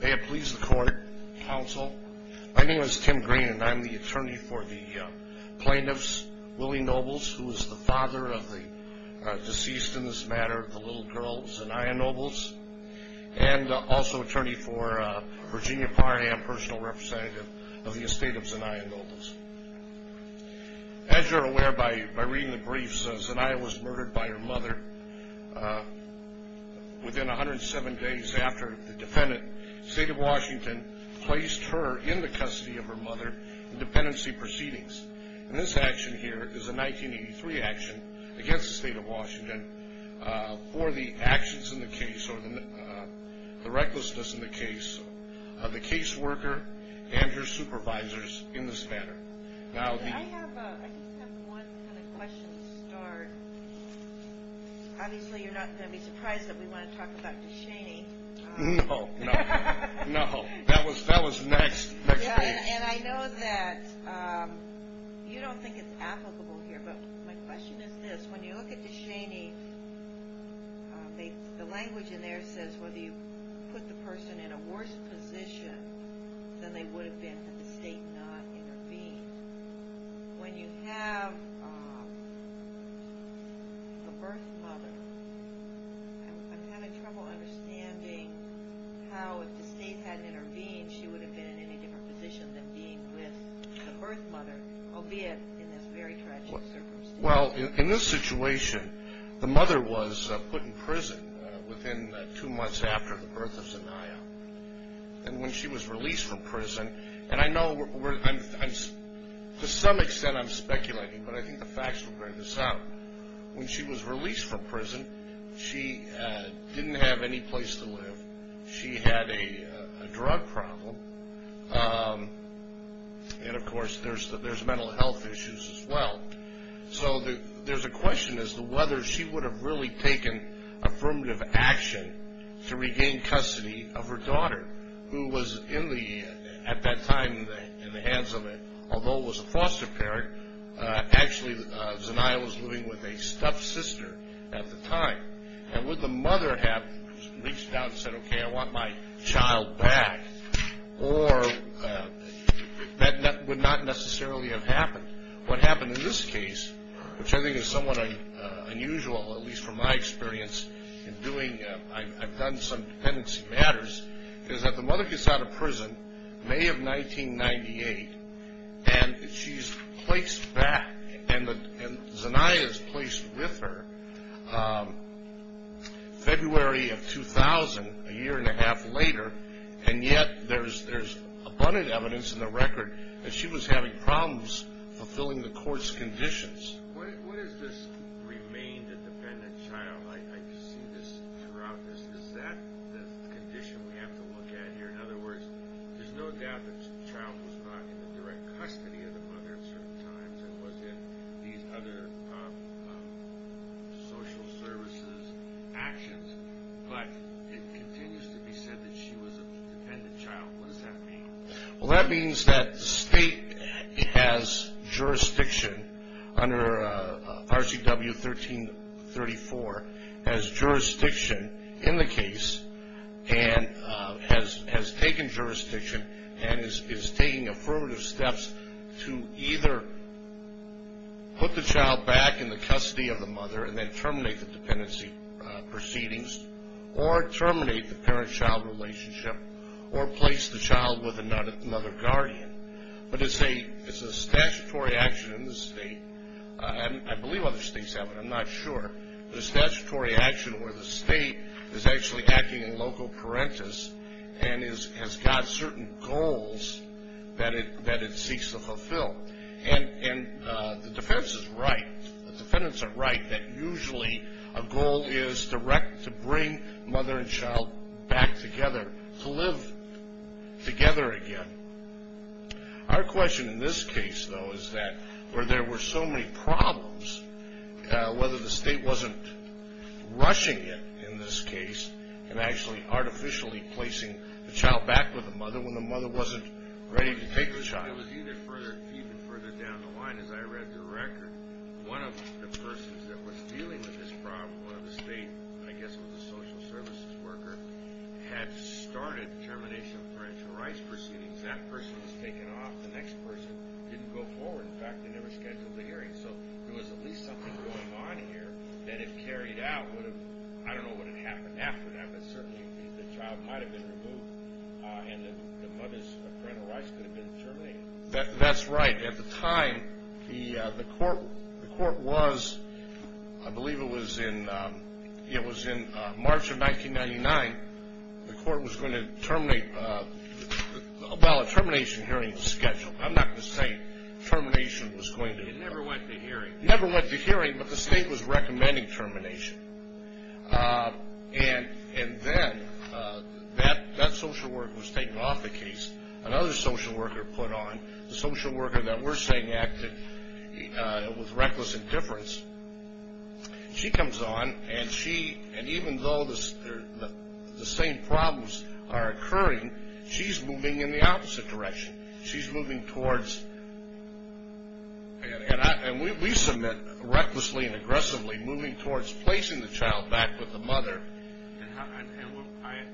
May it please the court, counsel. My name is Tim Green and I'm the attorney for the plaintiffs, Willie Nobles, who is the father of the deceased in this matter, the little girl Zania Nobles, and also attorney for Virginia Parham, personal representative of the estate of Zania Nobles. As you're aware by reading the briefs, Zania was murdered by her mother within 107 days after the defendant, State of Washington, placed her in the custody of her mother in dependency proceedings. And this action here is a 1983 action against the State of Washington for the actions in the case or the recklessness in the case of the caseworker and her supervisors in this matter. I just have one kind of question to start. Obviously you're not going to be surprised that we want to talk about DeShaney. No, no, no. That was next. And I know that you don't think it's applicable here, but my question is this. When you look at DeShaney, the language in there says whether you put the person in a worse position than they would have been had the state not intervened. When you have a birth mother, I'm having trouble understanding how if the state hadn't intervened, she would have been in any different position than being with the birth mother, albeit in this very tragic circumstance. Well, in this situation, the mother was put in prison within two months after the birth of Zania. And when she was released from prison, and I know to some extent I'm speculating, but I think the facts will bear this out. When she was released from prison, she didn't have any place to live. She had a drug problem. And of course, there's mental health issues as well. So there's a question as to whether she would have really taken affirmative action to regain custody of her daughter, who was at that time in the hands of, although it was a foster parent, actually Zania was living with a stuffed sister at the time. And would the mother have reached out and said, okay, I want my child back, or that would not necessarily have happened. What happened in this case, which I think is somewhat unusual, at least from my experience in doing, I've done some dependency matters, is that the mother gets out of prison May of 1998, and she's placed back. And Zania is placed with her February of 2000, a year and a half later. And yet there's abundant evidence in the record that she was having problems fulfilling the court's conditions. What is this remained a dependent child? I see this throughout this. Is that the condition we have to look at here? In other words, there's no doubt that the child was not in the direct custody of the mother at certain times and was in these other social services actions. But it continues to be said that she was a dependent child. What does that mean? Well, that means that the state has jurisdiction under RCW 1334, has jurisdiction in the case, and has taken jurisdiction and is taking affirmative steps to either put the child back in the custody of the mother and then terminate the dependency proceedings, or terminate the parent-child relationship, or place the child with another guardian. But it's a statutory action in the state, and I believe other states have it, I'm not sure, but it's a statutory action where the state is actually acting in loco parentis and has got certain goals that it seeks to fulfill. And the defense is right. The defendants are right that usually a goal is direct to bring mother and child back together, to live together again. Our question in this case, though, is that where there were so many problems, whether the state wasn't rushing it in this case and actually artificially placing the child back with the mother when the mother wasn't ready to take the child. I was even further down the line as I read the record. One of the persons that was dealing with this problem, one of the state, I guess it was a social services worker, had started termination of parental rights proceedings. That person was taken off. The next person didn't go forward. In fact, they never scheduled a hearing. So there was at least something going on here that if carried out would have, I don't know what would have happened after that, but certainly the child might have been removed and the mother's parental rights could have been terminated. That's right. At the time, the court was, I believe it was in March of 1999, the court was going to terminate, well, a termination hearing was scheduled. I'm not going to say termination was going to occur. It never went to hearing. It never went to hearing, but the state was recommending termination. And then that social worker was taken off the case. Another social worker put on. The social worker that we're saying acted with reckless indifference, she comes on, and even though the same problems are occurring, she's moving in the opposite direction. She's moving towards, and we submit recklessly and aggressively moving towards placing the child back with the mother. And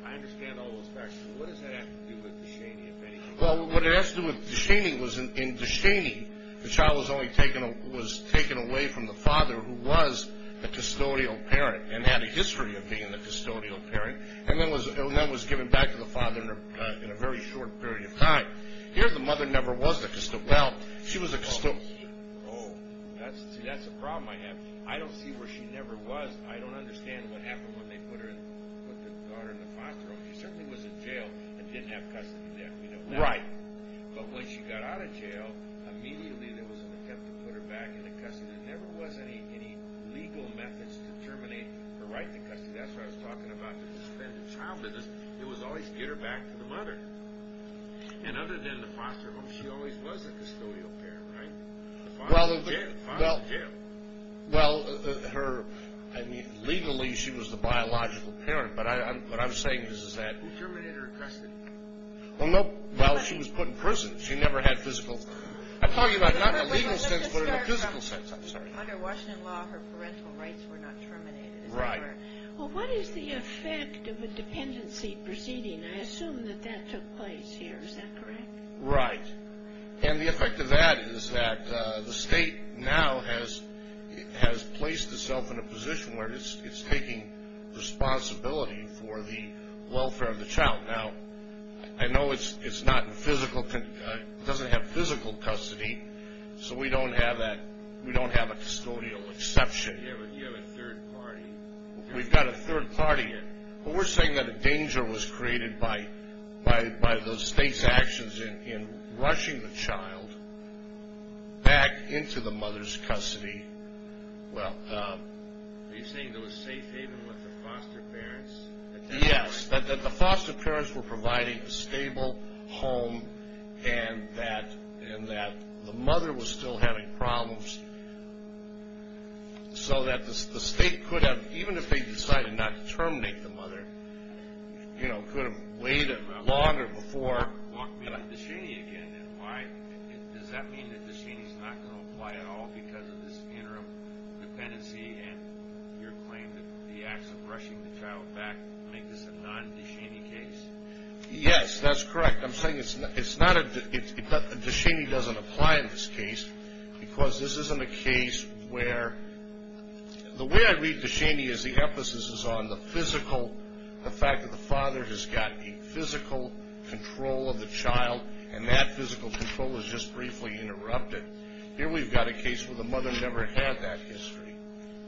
I understand all those facts, but what does that have to do with DeShaney, if anything? Well, what it has to do with DeShaney was in DeShaney, the child was taken away from the father who was the custodial parent and had a history of being the custodial parent, and then was given back to the father in a very short period of time. Here the mother never was the custodial parent. Oh, see, that's a problem I have. I don't see where she never was. I don't understand what happened when they put the daughter in the foster home. She certainly was in jail and didn't have custody then. Right. But when she got out of jail, immediately there was an attempt to put her back into custody. There never was any legal methods to terminate her right to custody. That's what I was talking about, the suspended child business. It was always get her back to the mother. And other than the foster home, she always was a custodial parent, right? Well, legally she was the biological parent, but what I'm saying is that— Who terminated her custody? Well, she was put in prison. She never had physical—I'm talking about not in a legal sense, but in a physical sense. Under Washington law, her parental rights were not terminated. Right. Well, what is the effect of a dependency proceeding? I assume that that took place here. Is that correct? Right. And the effect of that is that the state now has placed itself in a position where it's taking responsibility for the welfare of the child. Now, I know it doesn't have physical custody, so we don't have a custodial exception. You have a third party. We've got a third party in. But we're saying that a danger was created by the state's actions in rushing the child back into the mother's custody. Well— Are you saying there was safe haven with the foster parents? Yes, that the foster parents were providing a stable home and that the mother was still having problems so that the state could have, even if they decided not to terminate the mother, you know, could have waited longer before— I mean, walk me to Duchenne again. Does that mean that Duchenne is not going to apply at all because of this interim dependency and your claim that the acts of rushing the child back make this a non-Duchenne case? Yes, that's correct. I'm saying it's not—Duchenne doesn't apply in this case because this isn't a case where— The way I read Duchenne is the emphasis is on the physical, the fact that the father has got a physical control of the child, and that physical control is just briefly interrupted. Here we've got a case where the mother never had that history.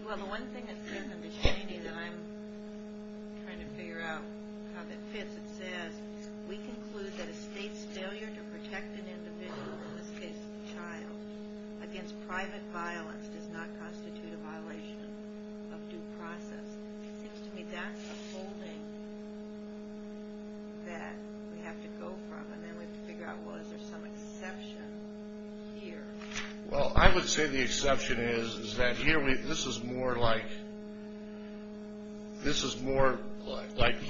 Well, the one thing I see in the Duchenne that I'm trying to figure out how that fits, we conclude that a state's failure to protect an individual, in this case the child, against private violence does not constitute a violation of due process. It seems to me that's a holding that we have to go from, and then we have to figure out, well, is there some exception here? Well, I would say the exception is that here this is more like— this is more like—I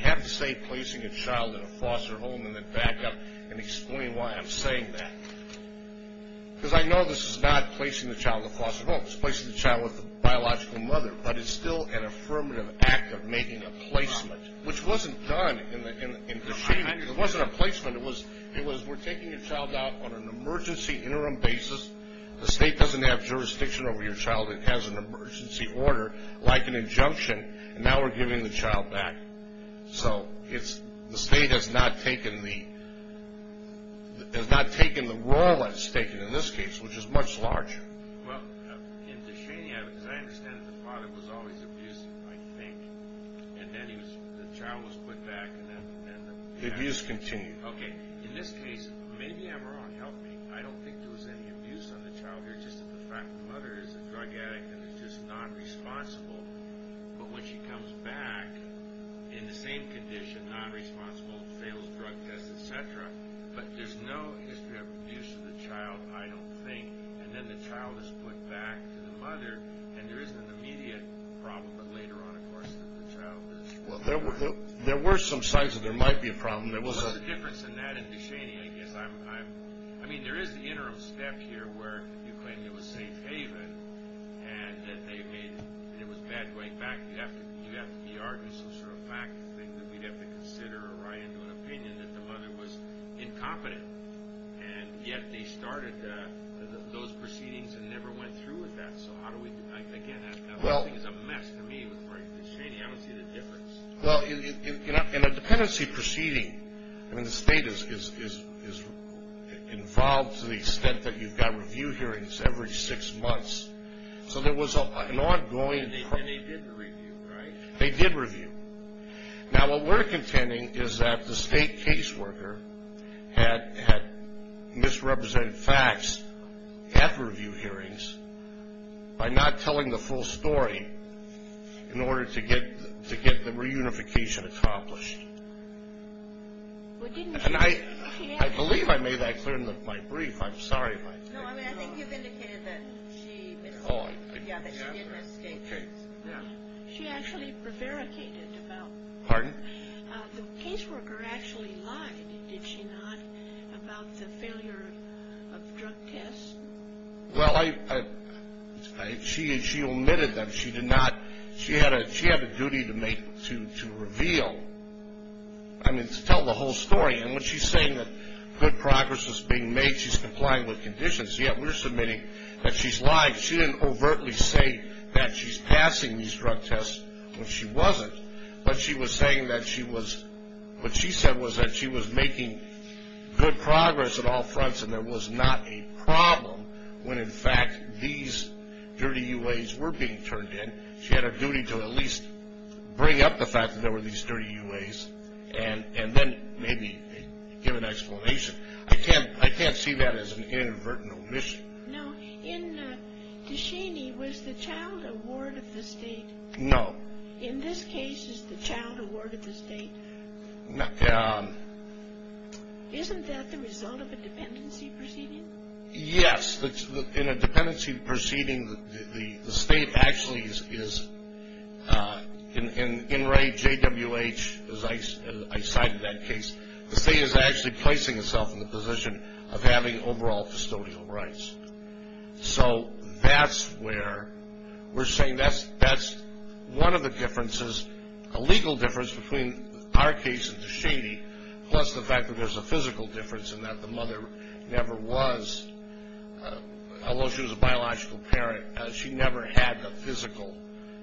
have to say placing a child in a foster home and then back up and explain why I'm saying that. Because I know this is not placing the child in a foster home. It's placing the child with a biological mother, but it's still an affirmative act of making a placement, which wasn't done in Duchenne. It wasn't a placement. It was we're taking a child out on an emergency interim basis. The state doesn't have jurisdiction over your child. It has an emergency order, like an injunction, and now we're giving the child back. So the state has not taken the role that it's taken in this case, which is much larger. Well, in Duchenne, as I understand it, the father was always abused, I think, and then the child was put back. The abuse continued. Okay, in this case, maybe I'm wrong. Help me. I don't think there was any abuse on the child here, just that the mother is a drug addict and is just not responsible. But when she comes back in the same condition, not responsible, fails drug tests, et cetera, but there's no history of abuse of the child, I don't think, and then the child is put back to the mother, and there isn't an immediate problem, but later on, of course, the child is— Well, there were some signs that there might be a problem. There was a difference in that in Duchenne, I guess. I mean, there is the interim step here where you claim it was safe haven and that it was bad going back. You have to be arguing some sort of fact that we'd have to consider or write into an opinion that the mother was incompetent, and yet they started those proceedings and never went through with that. So how do we—again, that thing is a mess to me with Duchenne. I don't see the difference. Well, in a dependency proceeding, I mean, the state is involved to the extent that you've got review hearings every six months. So there was an ongoing— And they did review, right? They did review. Now, what we're contending is that the state caseworker had misrepresented facts at review hearings by not telling the full story in order to get the reunification accomplished. And I believe I made that clear in my brief. I'm sorry if I— No, I mean, I think you've indicated that she— Yeah, that she made mistakes. She actually prevaricated about— Pardon? The caseworker actually lied, did she not, about the failure of drug tests? Well, she omitted them. She did not—she had a duty to make—to reveal. I mean, to tell the whole story. And when she's saying that good progress is being made, she's complying with conditions. Yet we're submitting that she's lying. She didn't overtly say that she's passing these drug tests when she wasn't, but she was saying that she was—what she said was that she was making good progress on all fronts and there was not a problem when, in fact, these dirty UAs were being turned in. She had a duty to at least bring up the fact that there were these dirty UAs and then maybe give an explanation. I can't see that as an inadvertent omission. Now, in Duchenne, was the child a ward of the state? No. In this case, is the child a ward of the state? Isn't that the result of a dependency proceeding? Yes. In a dependency proceeding, the state actually is—in Ray J. W. H., as I cited that case, the state is actually placing itself in the position of having overall custodial rights. So that's where we're saying that's one of the differences, a legal difference between our case and Duchenne, plus the fact that there's a physical difference in that the mother never was— although she was a biological parent, she never had the physical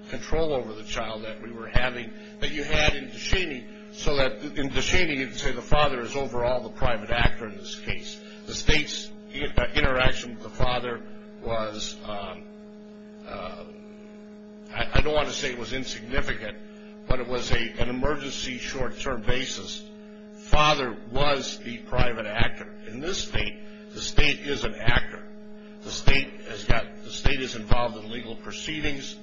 control over the child that we were having that you had in Duchenne, so that in Duchenne, you'd say the father is overall the private actor in this case. The state's interaction with the father was—I don't want to say it was insignificant, but it was an emergency short-term basis. Father was the private actor. In this state, the state is an actor. The state is involved in legal proceedings,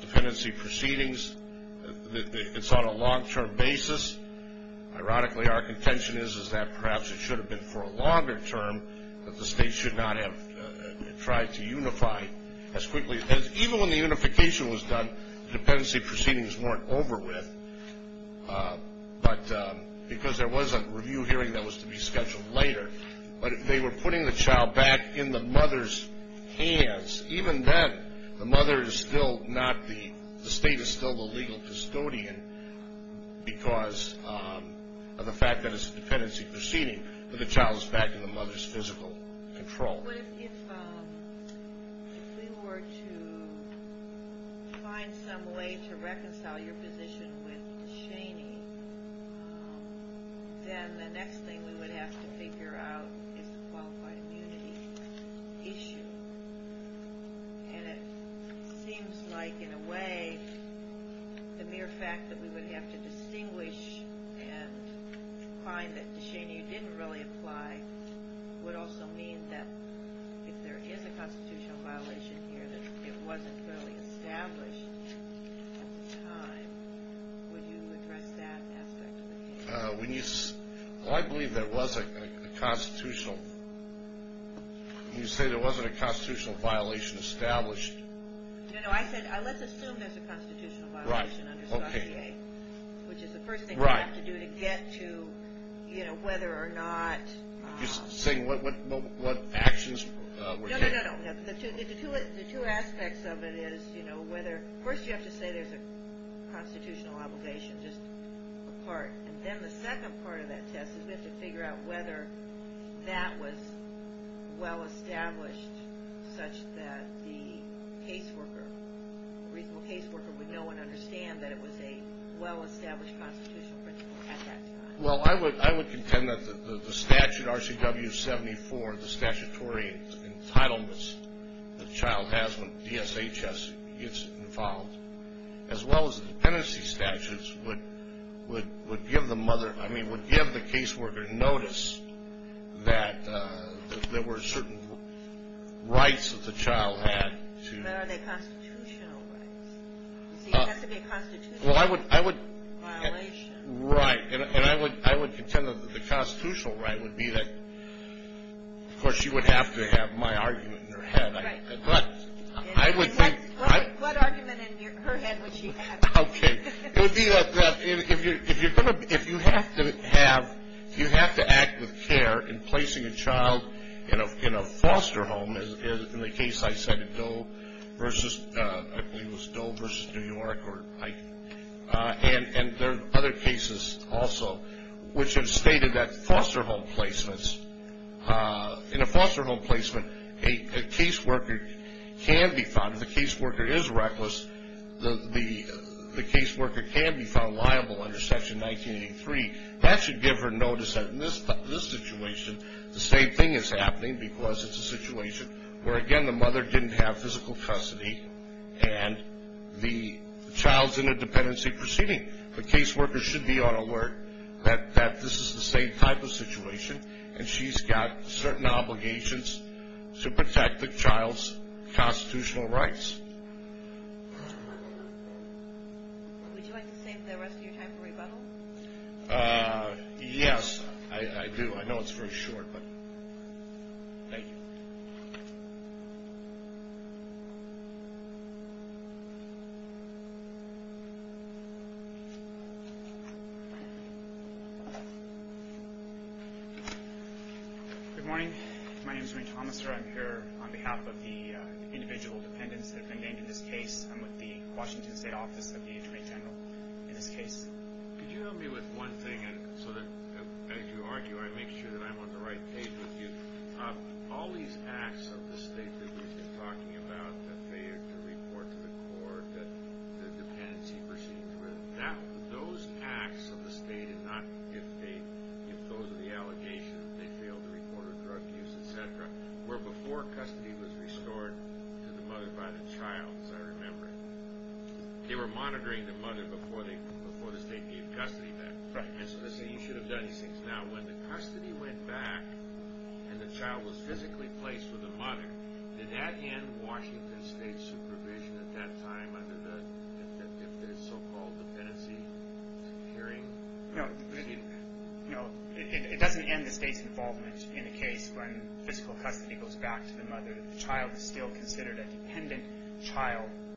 dependency proceedings. It's on a long-term basis. Ironically, our contention is that perhaps it should have been for a longer term, that the state should not have tried to unify as quickly as— even when the unification was done, dependency proceedings weren't over with, because there was a review hearing that was to be scheduled later, but they were putting the child back in the mother's hands. Even then, the mother is still not the—the state is still the legal custodian because of the fact that it's a dependency proceeding, but the child is back in the mother's physical control. But if we were to find some way to reconcile your position with Duchenne, then the next thing we would have to figure out is the qualified immunity issue. And it seems like, in a way, the mere fact that we would have to distinguish and find that Duchenne, you didn't really apply, would also mean that if there is a constitutional violation here, that it wasn't really established at the time. Would you address that aspect of the case? When you—I believe there was a constitutional— You said there wasn't a constitutional violation established. No, no, I said, let's assume there's a constitutional violation under the FDA, which is the first thing you have to do to get to, you know, whether or not— You're saying what actions were taken? No, no, no, no. The two aspects of it is, you know, whether— first you have to say there's a constitutional obligation, just a part, and then the second part of that test is we have to figure out whether that was well-established such that the caseworker, reasonable caseworker, would know and understand that it was a well-established constitutional principle at that time. Well, I would contend that the statute, RCW 74, the statutory entitlements the child has when DSHS gets involved, as well as the dependency statutes would give the caseworker notice that there were certain rights that the child had to— But are they constitutional rights? You see, it has to be a constitutional violation. Right, and I would contend that the constitutional right would be that— of course, she would have to have my argument in her head, but I would think— What argument in her head would she have? Okay, it would be that if you have to have— you have to act with care in placing a child in a foster home, in the case I cited, Doe versus—I believe it was Doe versus New York, and there are other cases also which have stated that foster home placements, in a foster home placement, a caseworker can be found. If the caseworker is reckless, the caseworker can be found liable under Section 1983. That should give her notice that in this situation, the same thing is happening because it's a situation where, again, the mother didn't have physical custody and the child's in a dependency proceeding. The caseworker should be on alert that this is the same type of situation, and she's got certain obligations to protect the child's constitutional rights. Would you like to save the rest of your time for rebuttal? Yes, I do. I know it's very short, but thank you. Good morning. My name is Ray Thomaser. I'm here on behalf of the individual dependents that have been named in this case. I'm with the Washington State Office of the Attorney General in this case. Could you help me with one thing so that, as you argue, I make sure that I'm on the right page with you? All these acts of the state that we've been talking about, the failure to report to the court, the dependency proceeding, those acts of the state, if those are the allegations, they failed to report a drug use, et cetera, were before custody was restored to the mother by the child, as I remember it. They were monitoring the mother before the state gave custody back. Right. And so, listen, you should have done these things now. When the custody went back and the child was physically placed with the mother, did that end Washington State's supervision at that time under the so-called dependency securing? No, it doesn't end the state's involvement in a case when physical custody goes back to the mother. The child is still considered a dependent child. Thank you. Thank you. All right. Thank you. Thank you. Thank you. Thank you. Thank you. Thank you.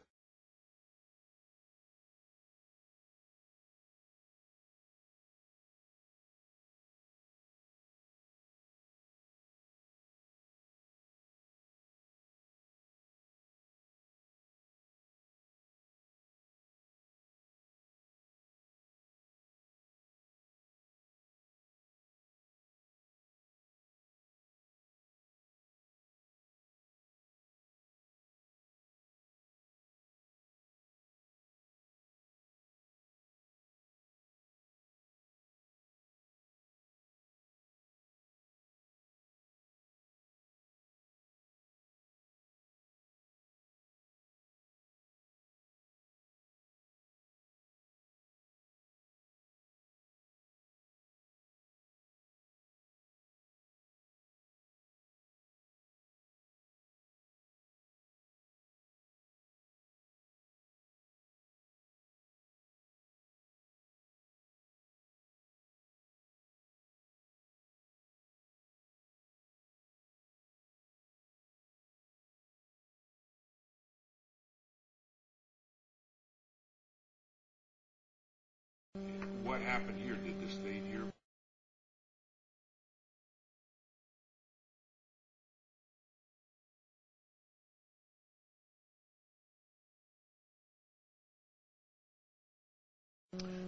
What happened here? Did the state hear?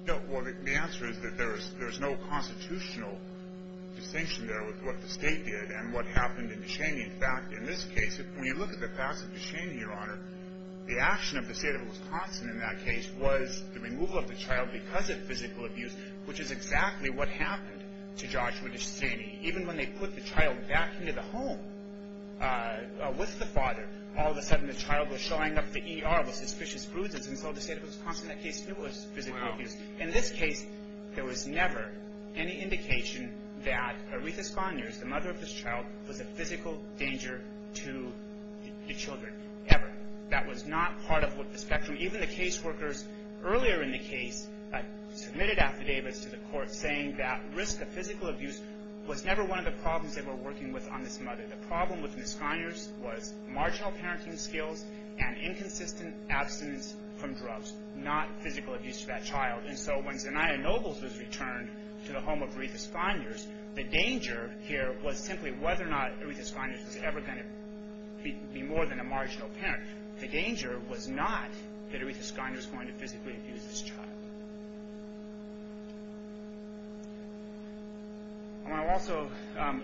Well, the answer is that there's no constitutional distinction there with what the state did and what happened in Descheny. In fact, in this case, when you look at the facts of Descheny, Your Honor, the action of the state of Wisconsin in that case was the removal of the child because of physical abuse. What happened to Joshua Descheny, even when they put the child back into the home with the father, all of a sudden the child was showing up to ER with suspicious bruises, and so the state of Wisconsin in that case knew it was physical abuse. In this case, there was never any indication that Aretha Sconyers, the mother of this child, was a physical danger to the children, ever. That was not part of the spectrum. Even the case workers earlier in the case submitted affidavits to the court saying that risk of physical abuse was never one of the problems they were working with on this mother. The problem with Ms. Sconyers was marginal parenting skills and inconsistent abstinence from drugs, not physical abuse to that child. And so when Zania Nobles was returned to the home of Aretha Sconyers, the danger here was simply whether or not Aretha Sconyers was ever going to be more than a marginal parent. The danger was not that Aretha Sconyers was going to physically abuse this child. I want to also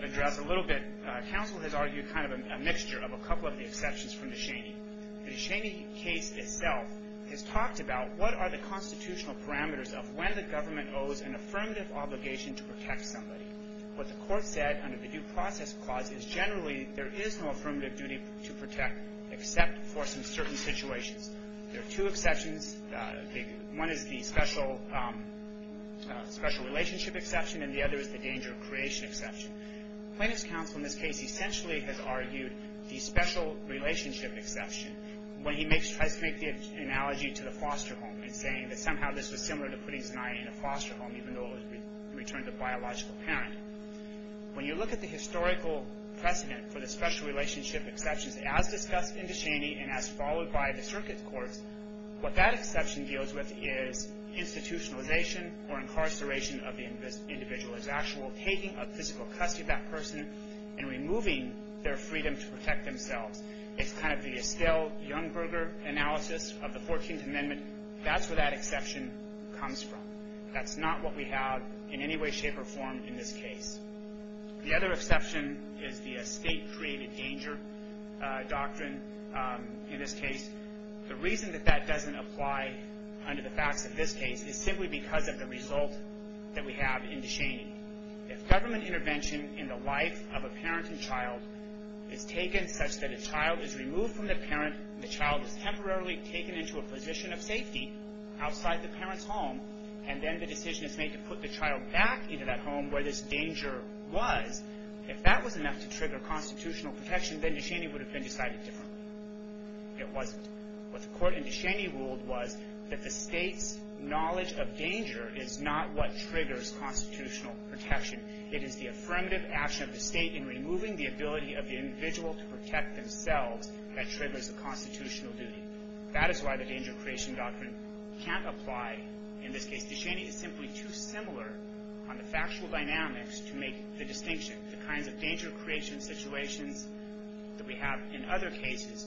address a little bit, counsel has argued kind of a mixture of a couple of the exceptions from Descheny. The Descheny case itself has talked about what are the constitutional parameters of when the government owes an affirmative obligation to protect somebody. What the court said under the Due Process Clause is generally there is no affirmative duty to protect except for some certain situations. There are two exceptions. One is the special relationship exception and the other is the danger of creation exception. Plaintiff's counsel in this case essentially has argued the special relationship exception when he tries to make the analogy to the foster home in saying that somehow this was similar to putting Zania in a foster home even though it was returned to a biological parent. When you look at the historical precedent for the special relationship exceptions as discussed in Descheny and as followed by the circuit courts, what that exception deals with is institutionalization or incarceration of the individual. It's actual taking of physical custody of that person and removing their freedom to protect themselves. It's kind of the Estelle Youngberger analysis of the 14th Amendment. That's where that exception comes from. That's not what we have in any way, shape, or form in this case. The other exception is the estate created danger doctrine in this case. The reason that that doesn't apply under the facts of this case is simply because of the result that we have in Descheny. If government intervention in the life of a parenting child is taken such that a child is removed from the parent and the child is temporarily taken into a position of safety outside the parent's home and then the decision is made to put the child back into that home where this danger was, if that was enough to trigger constitutional protection, then Descheny would have been decided differently. It wasn't. What the court in Descheny ruled was that the state's knowledge of danger is not what triggers constitutional protection. It is the affirmative action of the state in removing the ability of the individual to protect themselves that triggers the constitutional duty. That is why the danger of creation doctrine can't apply in this case. Descheny is simply too similar on the factual dynamics to make the distinction. The kinds of danger of creation situations that we have in other cases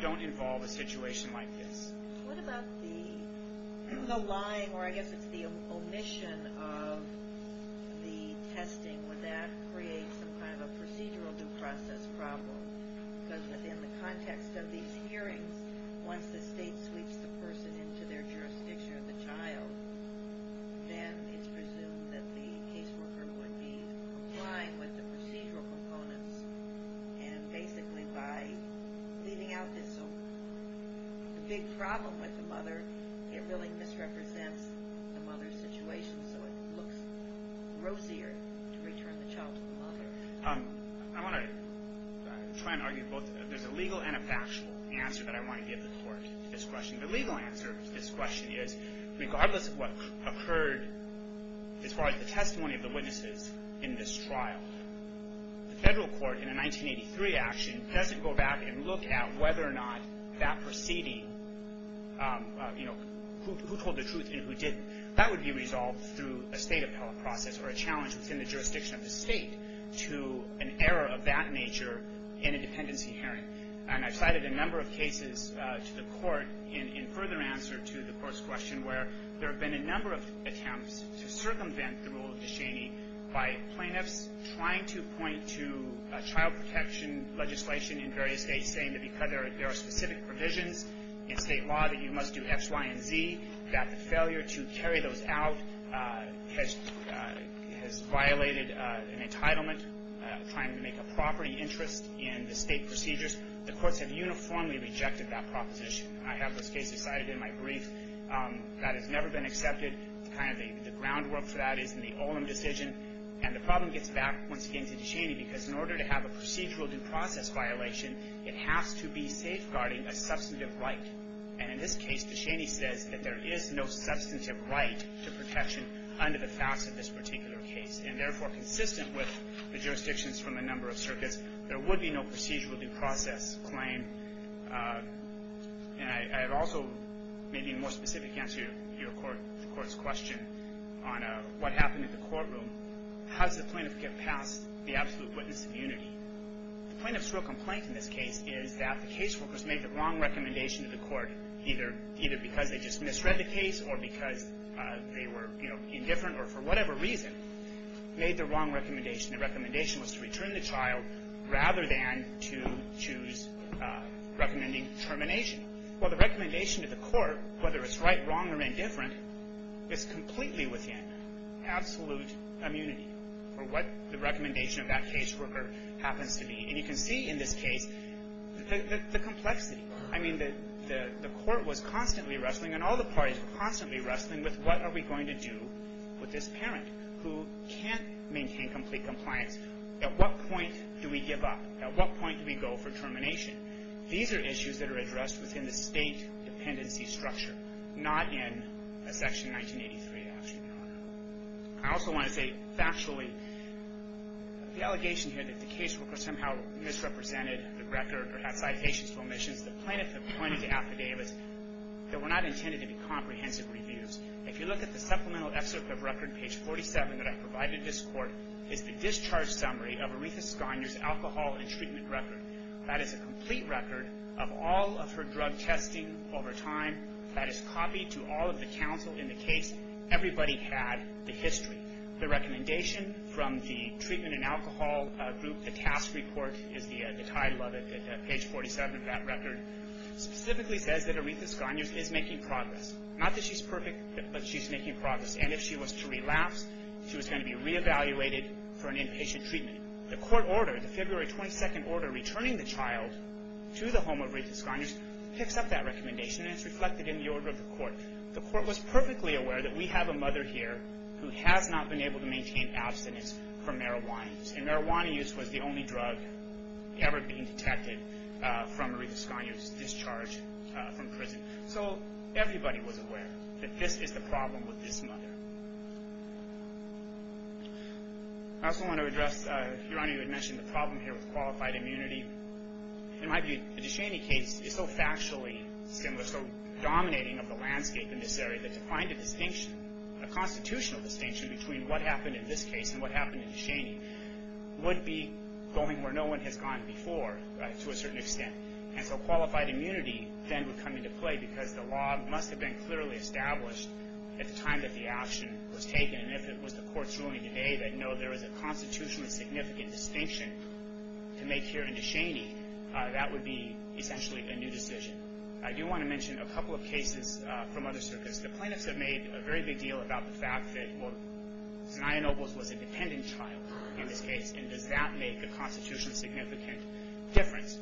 don't involve a situation like this. What about the lying, or I guess it's the omission of the testing? Would that create some kind of a procedural due process problem? Because within the context of these hearings, once the state sweeps the person into their jurisdiction or the child, then it's presumed that the caseworker would be complying with the procedural components and basically by leaving out this big problem with the mother, it really misrepresents the mother's situation so it looks grossier to return the child to the mother. I want to try and argue both. There's a legal and a factual answer that I want to give the court to this question. The legal answer to this question is, regardless of what occurred as far as the testimony of the witnesses in this trial, the federal court in a 1983 action doesn't go back and look at whether or not that proceeding, you know, who told the truth and who didn't. That would be resolved through a state appellate process or a challenge within the nature in a dependency hearing. And I've cited a number of cases to the court in further answer to the court's question where there have been a number of attempts to circumvent the rule of Duchenne by plaintiffs trying to point to child protection legislation in various states saying that because there are specific provisions in state law that you must do X, Y, and Z, that the failure to carry those out has violated an entitlement, trying to make a property interest in the state procedures. The courts have uniformly rejected that proposition. I have this case cited in my brief. That has never been accepted. Kind of the groundwork for that is in the Olin decision. And the problem gets back, once again, to Duchenne because in order to have a procedural due process violation, it has to be safeguarding a substantive right. And in this case, Duchenne says that there is no substantive right to protection under the facts of this particular case. And therefore, consistent with the jurisdictions from a number of circuits, there would be no procedural due process claim. And I have also maybe a more specific answer to your court's question on what happened in the courtroom. How does the plaintiff get past the absolute witness immunity? The plaintiff's real complaint in this case is that the case workers made the wrong recommendation to the court, either because they just misread the case or because they were, you know, indifferent or for whatever reason, made the wrong recommendation. The recommendation was to return the child rather than to choose recommending termination. Well, the recommendation to the court, whether it's right, wrong, or indifferent, is completely within absolute immunity for what the recommendation of that case worker happens to be. And you can see in this case the complexity. I mean, the court was constantly wrestling, and all the parties were constantly wrestling with what are we going to do with this parent who can't maintain complete compliance. At what point do we give up? At what point do we go for termination? These are issues that are addressed within the state dependency structure, not in a Section 1983. I also want to say factually, the allegation here that the case worker somehow misrepresented the record or had citations for omissions, the plaintiff had pointed to affidavits that were not intended to be comprehensive reviews. If you look at the supplemental excerpt of record, page 47, that I provided this court, is the discharge summary of Aretha Sconder's alcohol and treatment record. That is a complete record of all of her drug testing over time. That is copied to all of the counsel in the case. Everybody had the history. The recommendation from the treatment and alcohol group, the task report is the title of it, page 47 of that record, specifically says that Aretha Sconder is making progress. Not that she's perfect, but she's making progress. And if she was to relapse, she was going to be reevaluated for an inpatient treatment. The court order, the February 22nd order returning the child to the home of Aretha Sconder, picks up that recommendation, and it's reflected in the order of the court. The court was perfectly aware that we have a mother here who has not been able to maintain abstinence from marijuana use. And marijuana use was the only drug ever being detected from Aretha Sconder's discharge from prison. So everybody was aware that this is the problem with this mother. I also want to address, Your Honor, you had mentioned the problem here with qualified immunity. In my view, the Deshaney case is so factually similar, so dominating of the landscape, in this area, that to find a distinction, a constitutional distinction between what happened in this case and what happened in Deshaney would be going where no one has gone before, to a certain extent. And so qualified immunity then would come into play because the law must have been clearly established at the time that the action was taken. And if it was the court's ruling today that, no, there is a constitutionally significant distinction to make here in Deshaney, that would be essentially a new decision. I do want to mention a couple of cases from other circuits. The plaintiffs have made a very big deal about the fact that Zania Nobles was a dependent child in this case. And does that make a constitutionally significant difference?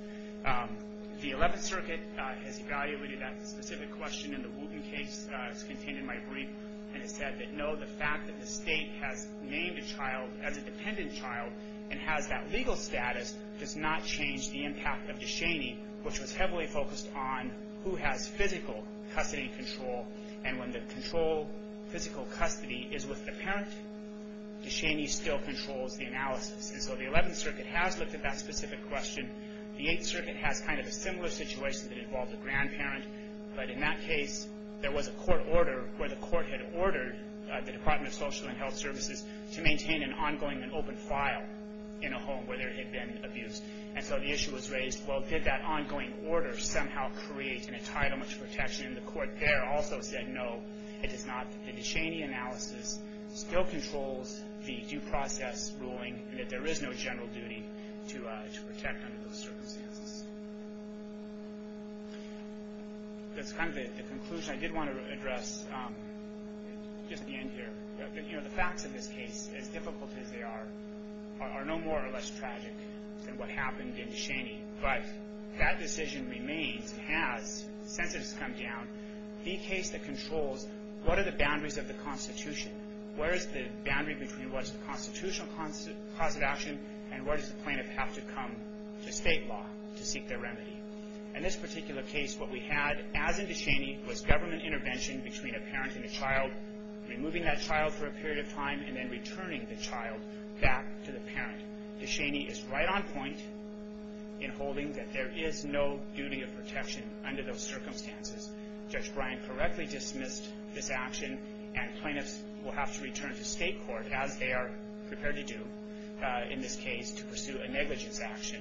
The 11th Circuit has evaluated that specific question in the Wooten case that's contained in my brief and has said that, no, the fact that the state has named a child as a dependent child and has that legal status does not change the impact of Deshaney, which was heavily focused on who has physical custody control. And when the control, physical custody, is with the parent, Deshaney still controls the analysis. And so the 11th Circuit has looked at that specific question. The 8th Circuit has kind of a similar situation that involved a grandparent. But in that case, there was a court order where the court had ordered the Department of Social and Health Services to maintain an ongoing and open file in a home where there had been abuse. And so the issue was raised, well, did that ongoing order somehow create an entitlement to protection? And the court there also said, no, it does not. The Deshaney analysis still controls the due process ruling and that there is no general duty to protect under those circumstances. That's kind of the conclusion I did want to address just at the end here. You know, the facts of this case, as difficult as they are, are no more or less tragic than what happened in Deshaney. But that decision remains, has, since it has come down, the case that controls what are the boundaries of the Constitution? Where is the boundary between what is the constitutional cause of action and where does the plaintiff have to come to state law to seek their remedy? In this particular case, what we had, as in Deshaney, was government intervention between a parent and a child, removing that child for a period of time and then returning the child back to the parent. Deshaney is right on point in holding that there is no duty of protection under those circumstances. Judge Bryant correctly dismissed this action and plaintiffs will have to return to state court, as they are prepared to do in this case, to pursue a negligence action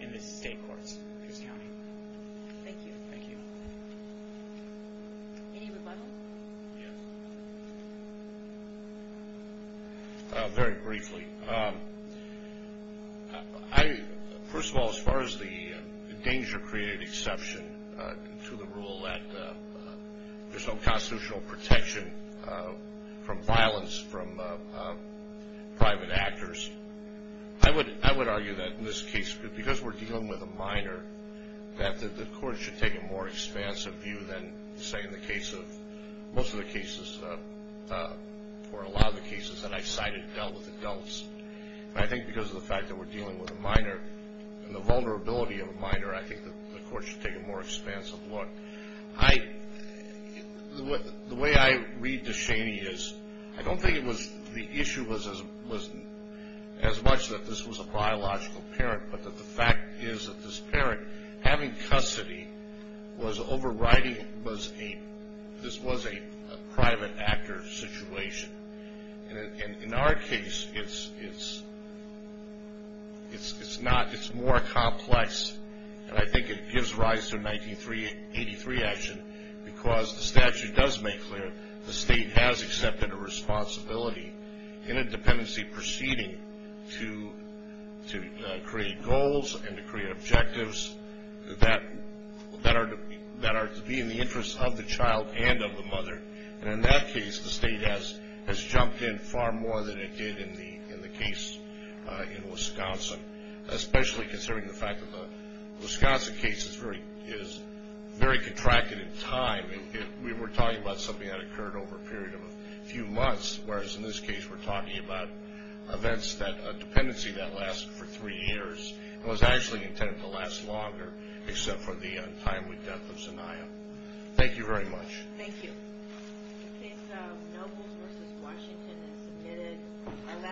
in the state courts of Pierce County. Thank you. Thank you. Any rebuttals? Yes. Very briefly. I, first of all, as far as the danger created exception to the rule that there is no constitutional protection from violence from private actors, I would, I would argue that in this case, because we are dealing with a minor, that the court should take a more expansive view than, say, in the case of, most of the cases, or a lot of the cases that I cited dealt with adults. And I think because of the fact that we're dealing with a minor and the vulnerability of a minor, I think that the court should take a more expansive look. I, the way I read Deshaney is, I don't think it was, the issue was as much that this was a biological parent, but that the fact is that this parent, having custody, was overriding was a, this was a private actor situation. And in our case, it's, it's, it's not, it's more complex. And I think it gives rise to 1983 action because the statute does make clear the state has accepted a responsibility in a dependency proceeding to, to create goals and to create objectives that, that are, that are to be in the interest of the child and of the mother. And in that case, the state has, has jumped in far more than it did in the, in the case in Wisconsin, especially considering the fact that the Wisconsin case is very, is very contracted in time. We were talking about something that occurred over a period of a few months, whereas in this case, we're talking about events that, a dependency that lasted for three years. It was actually intended to last longer, except for the time with death of Zaniah. Thank you very much. Thank you. The case of Nobles v. Washington is submitted.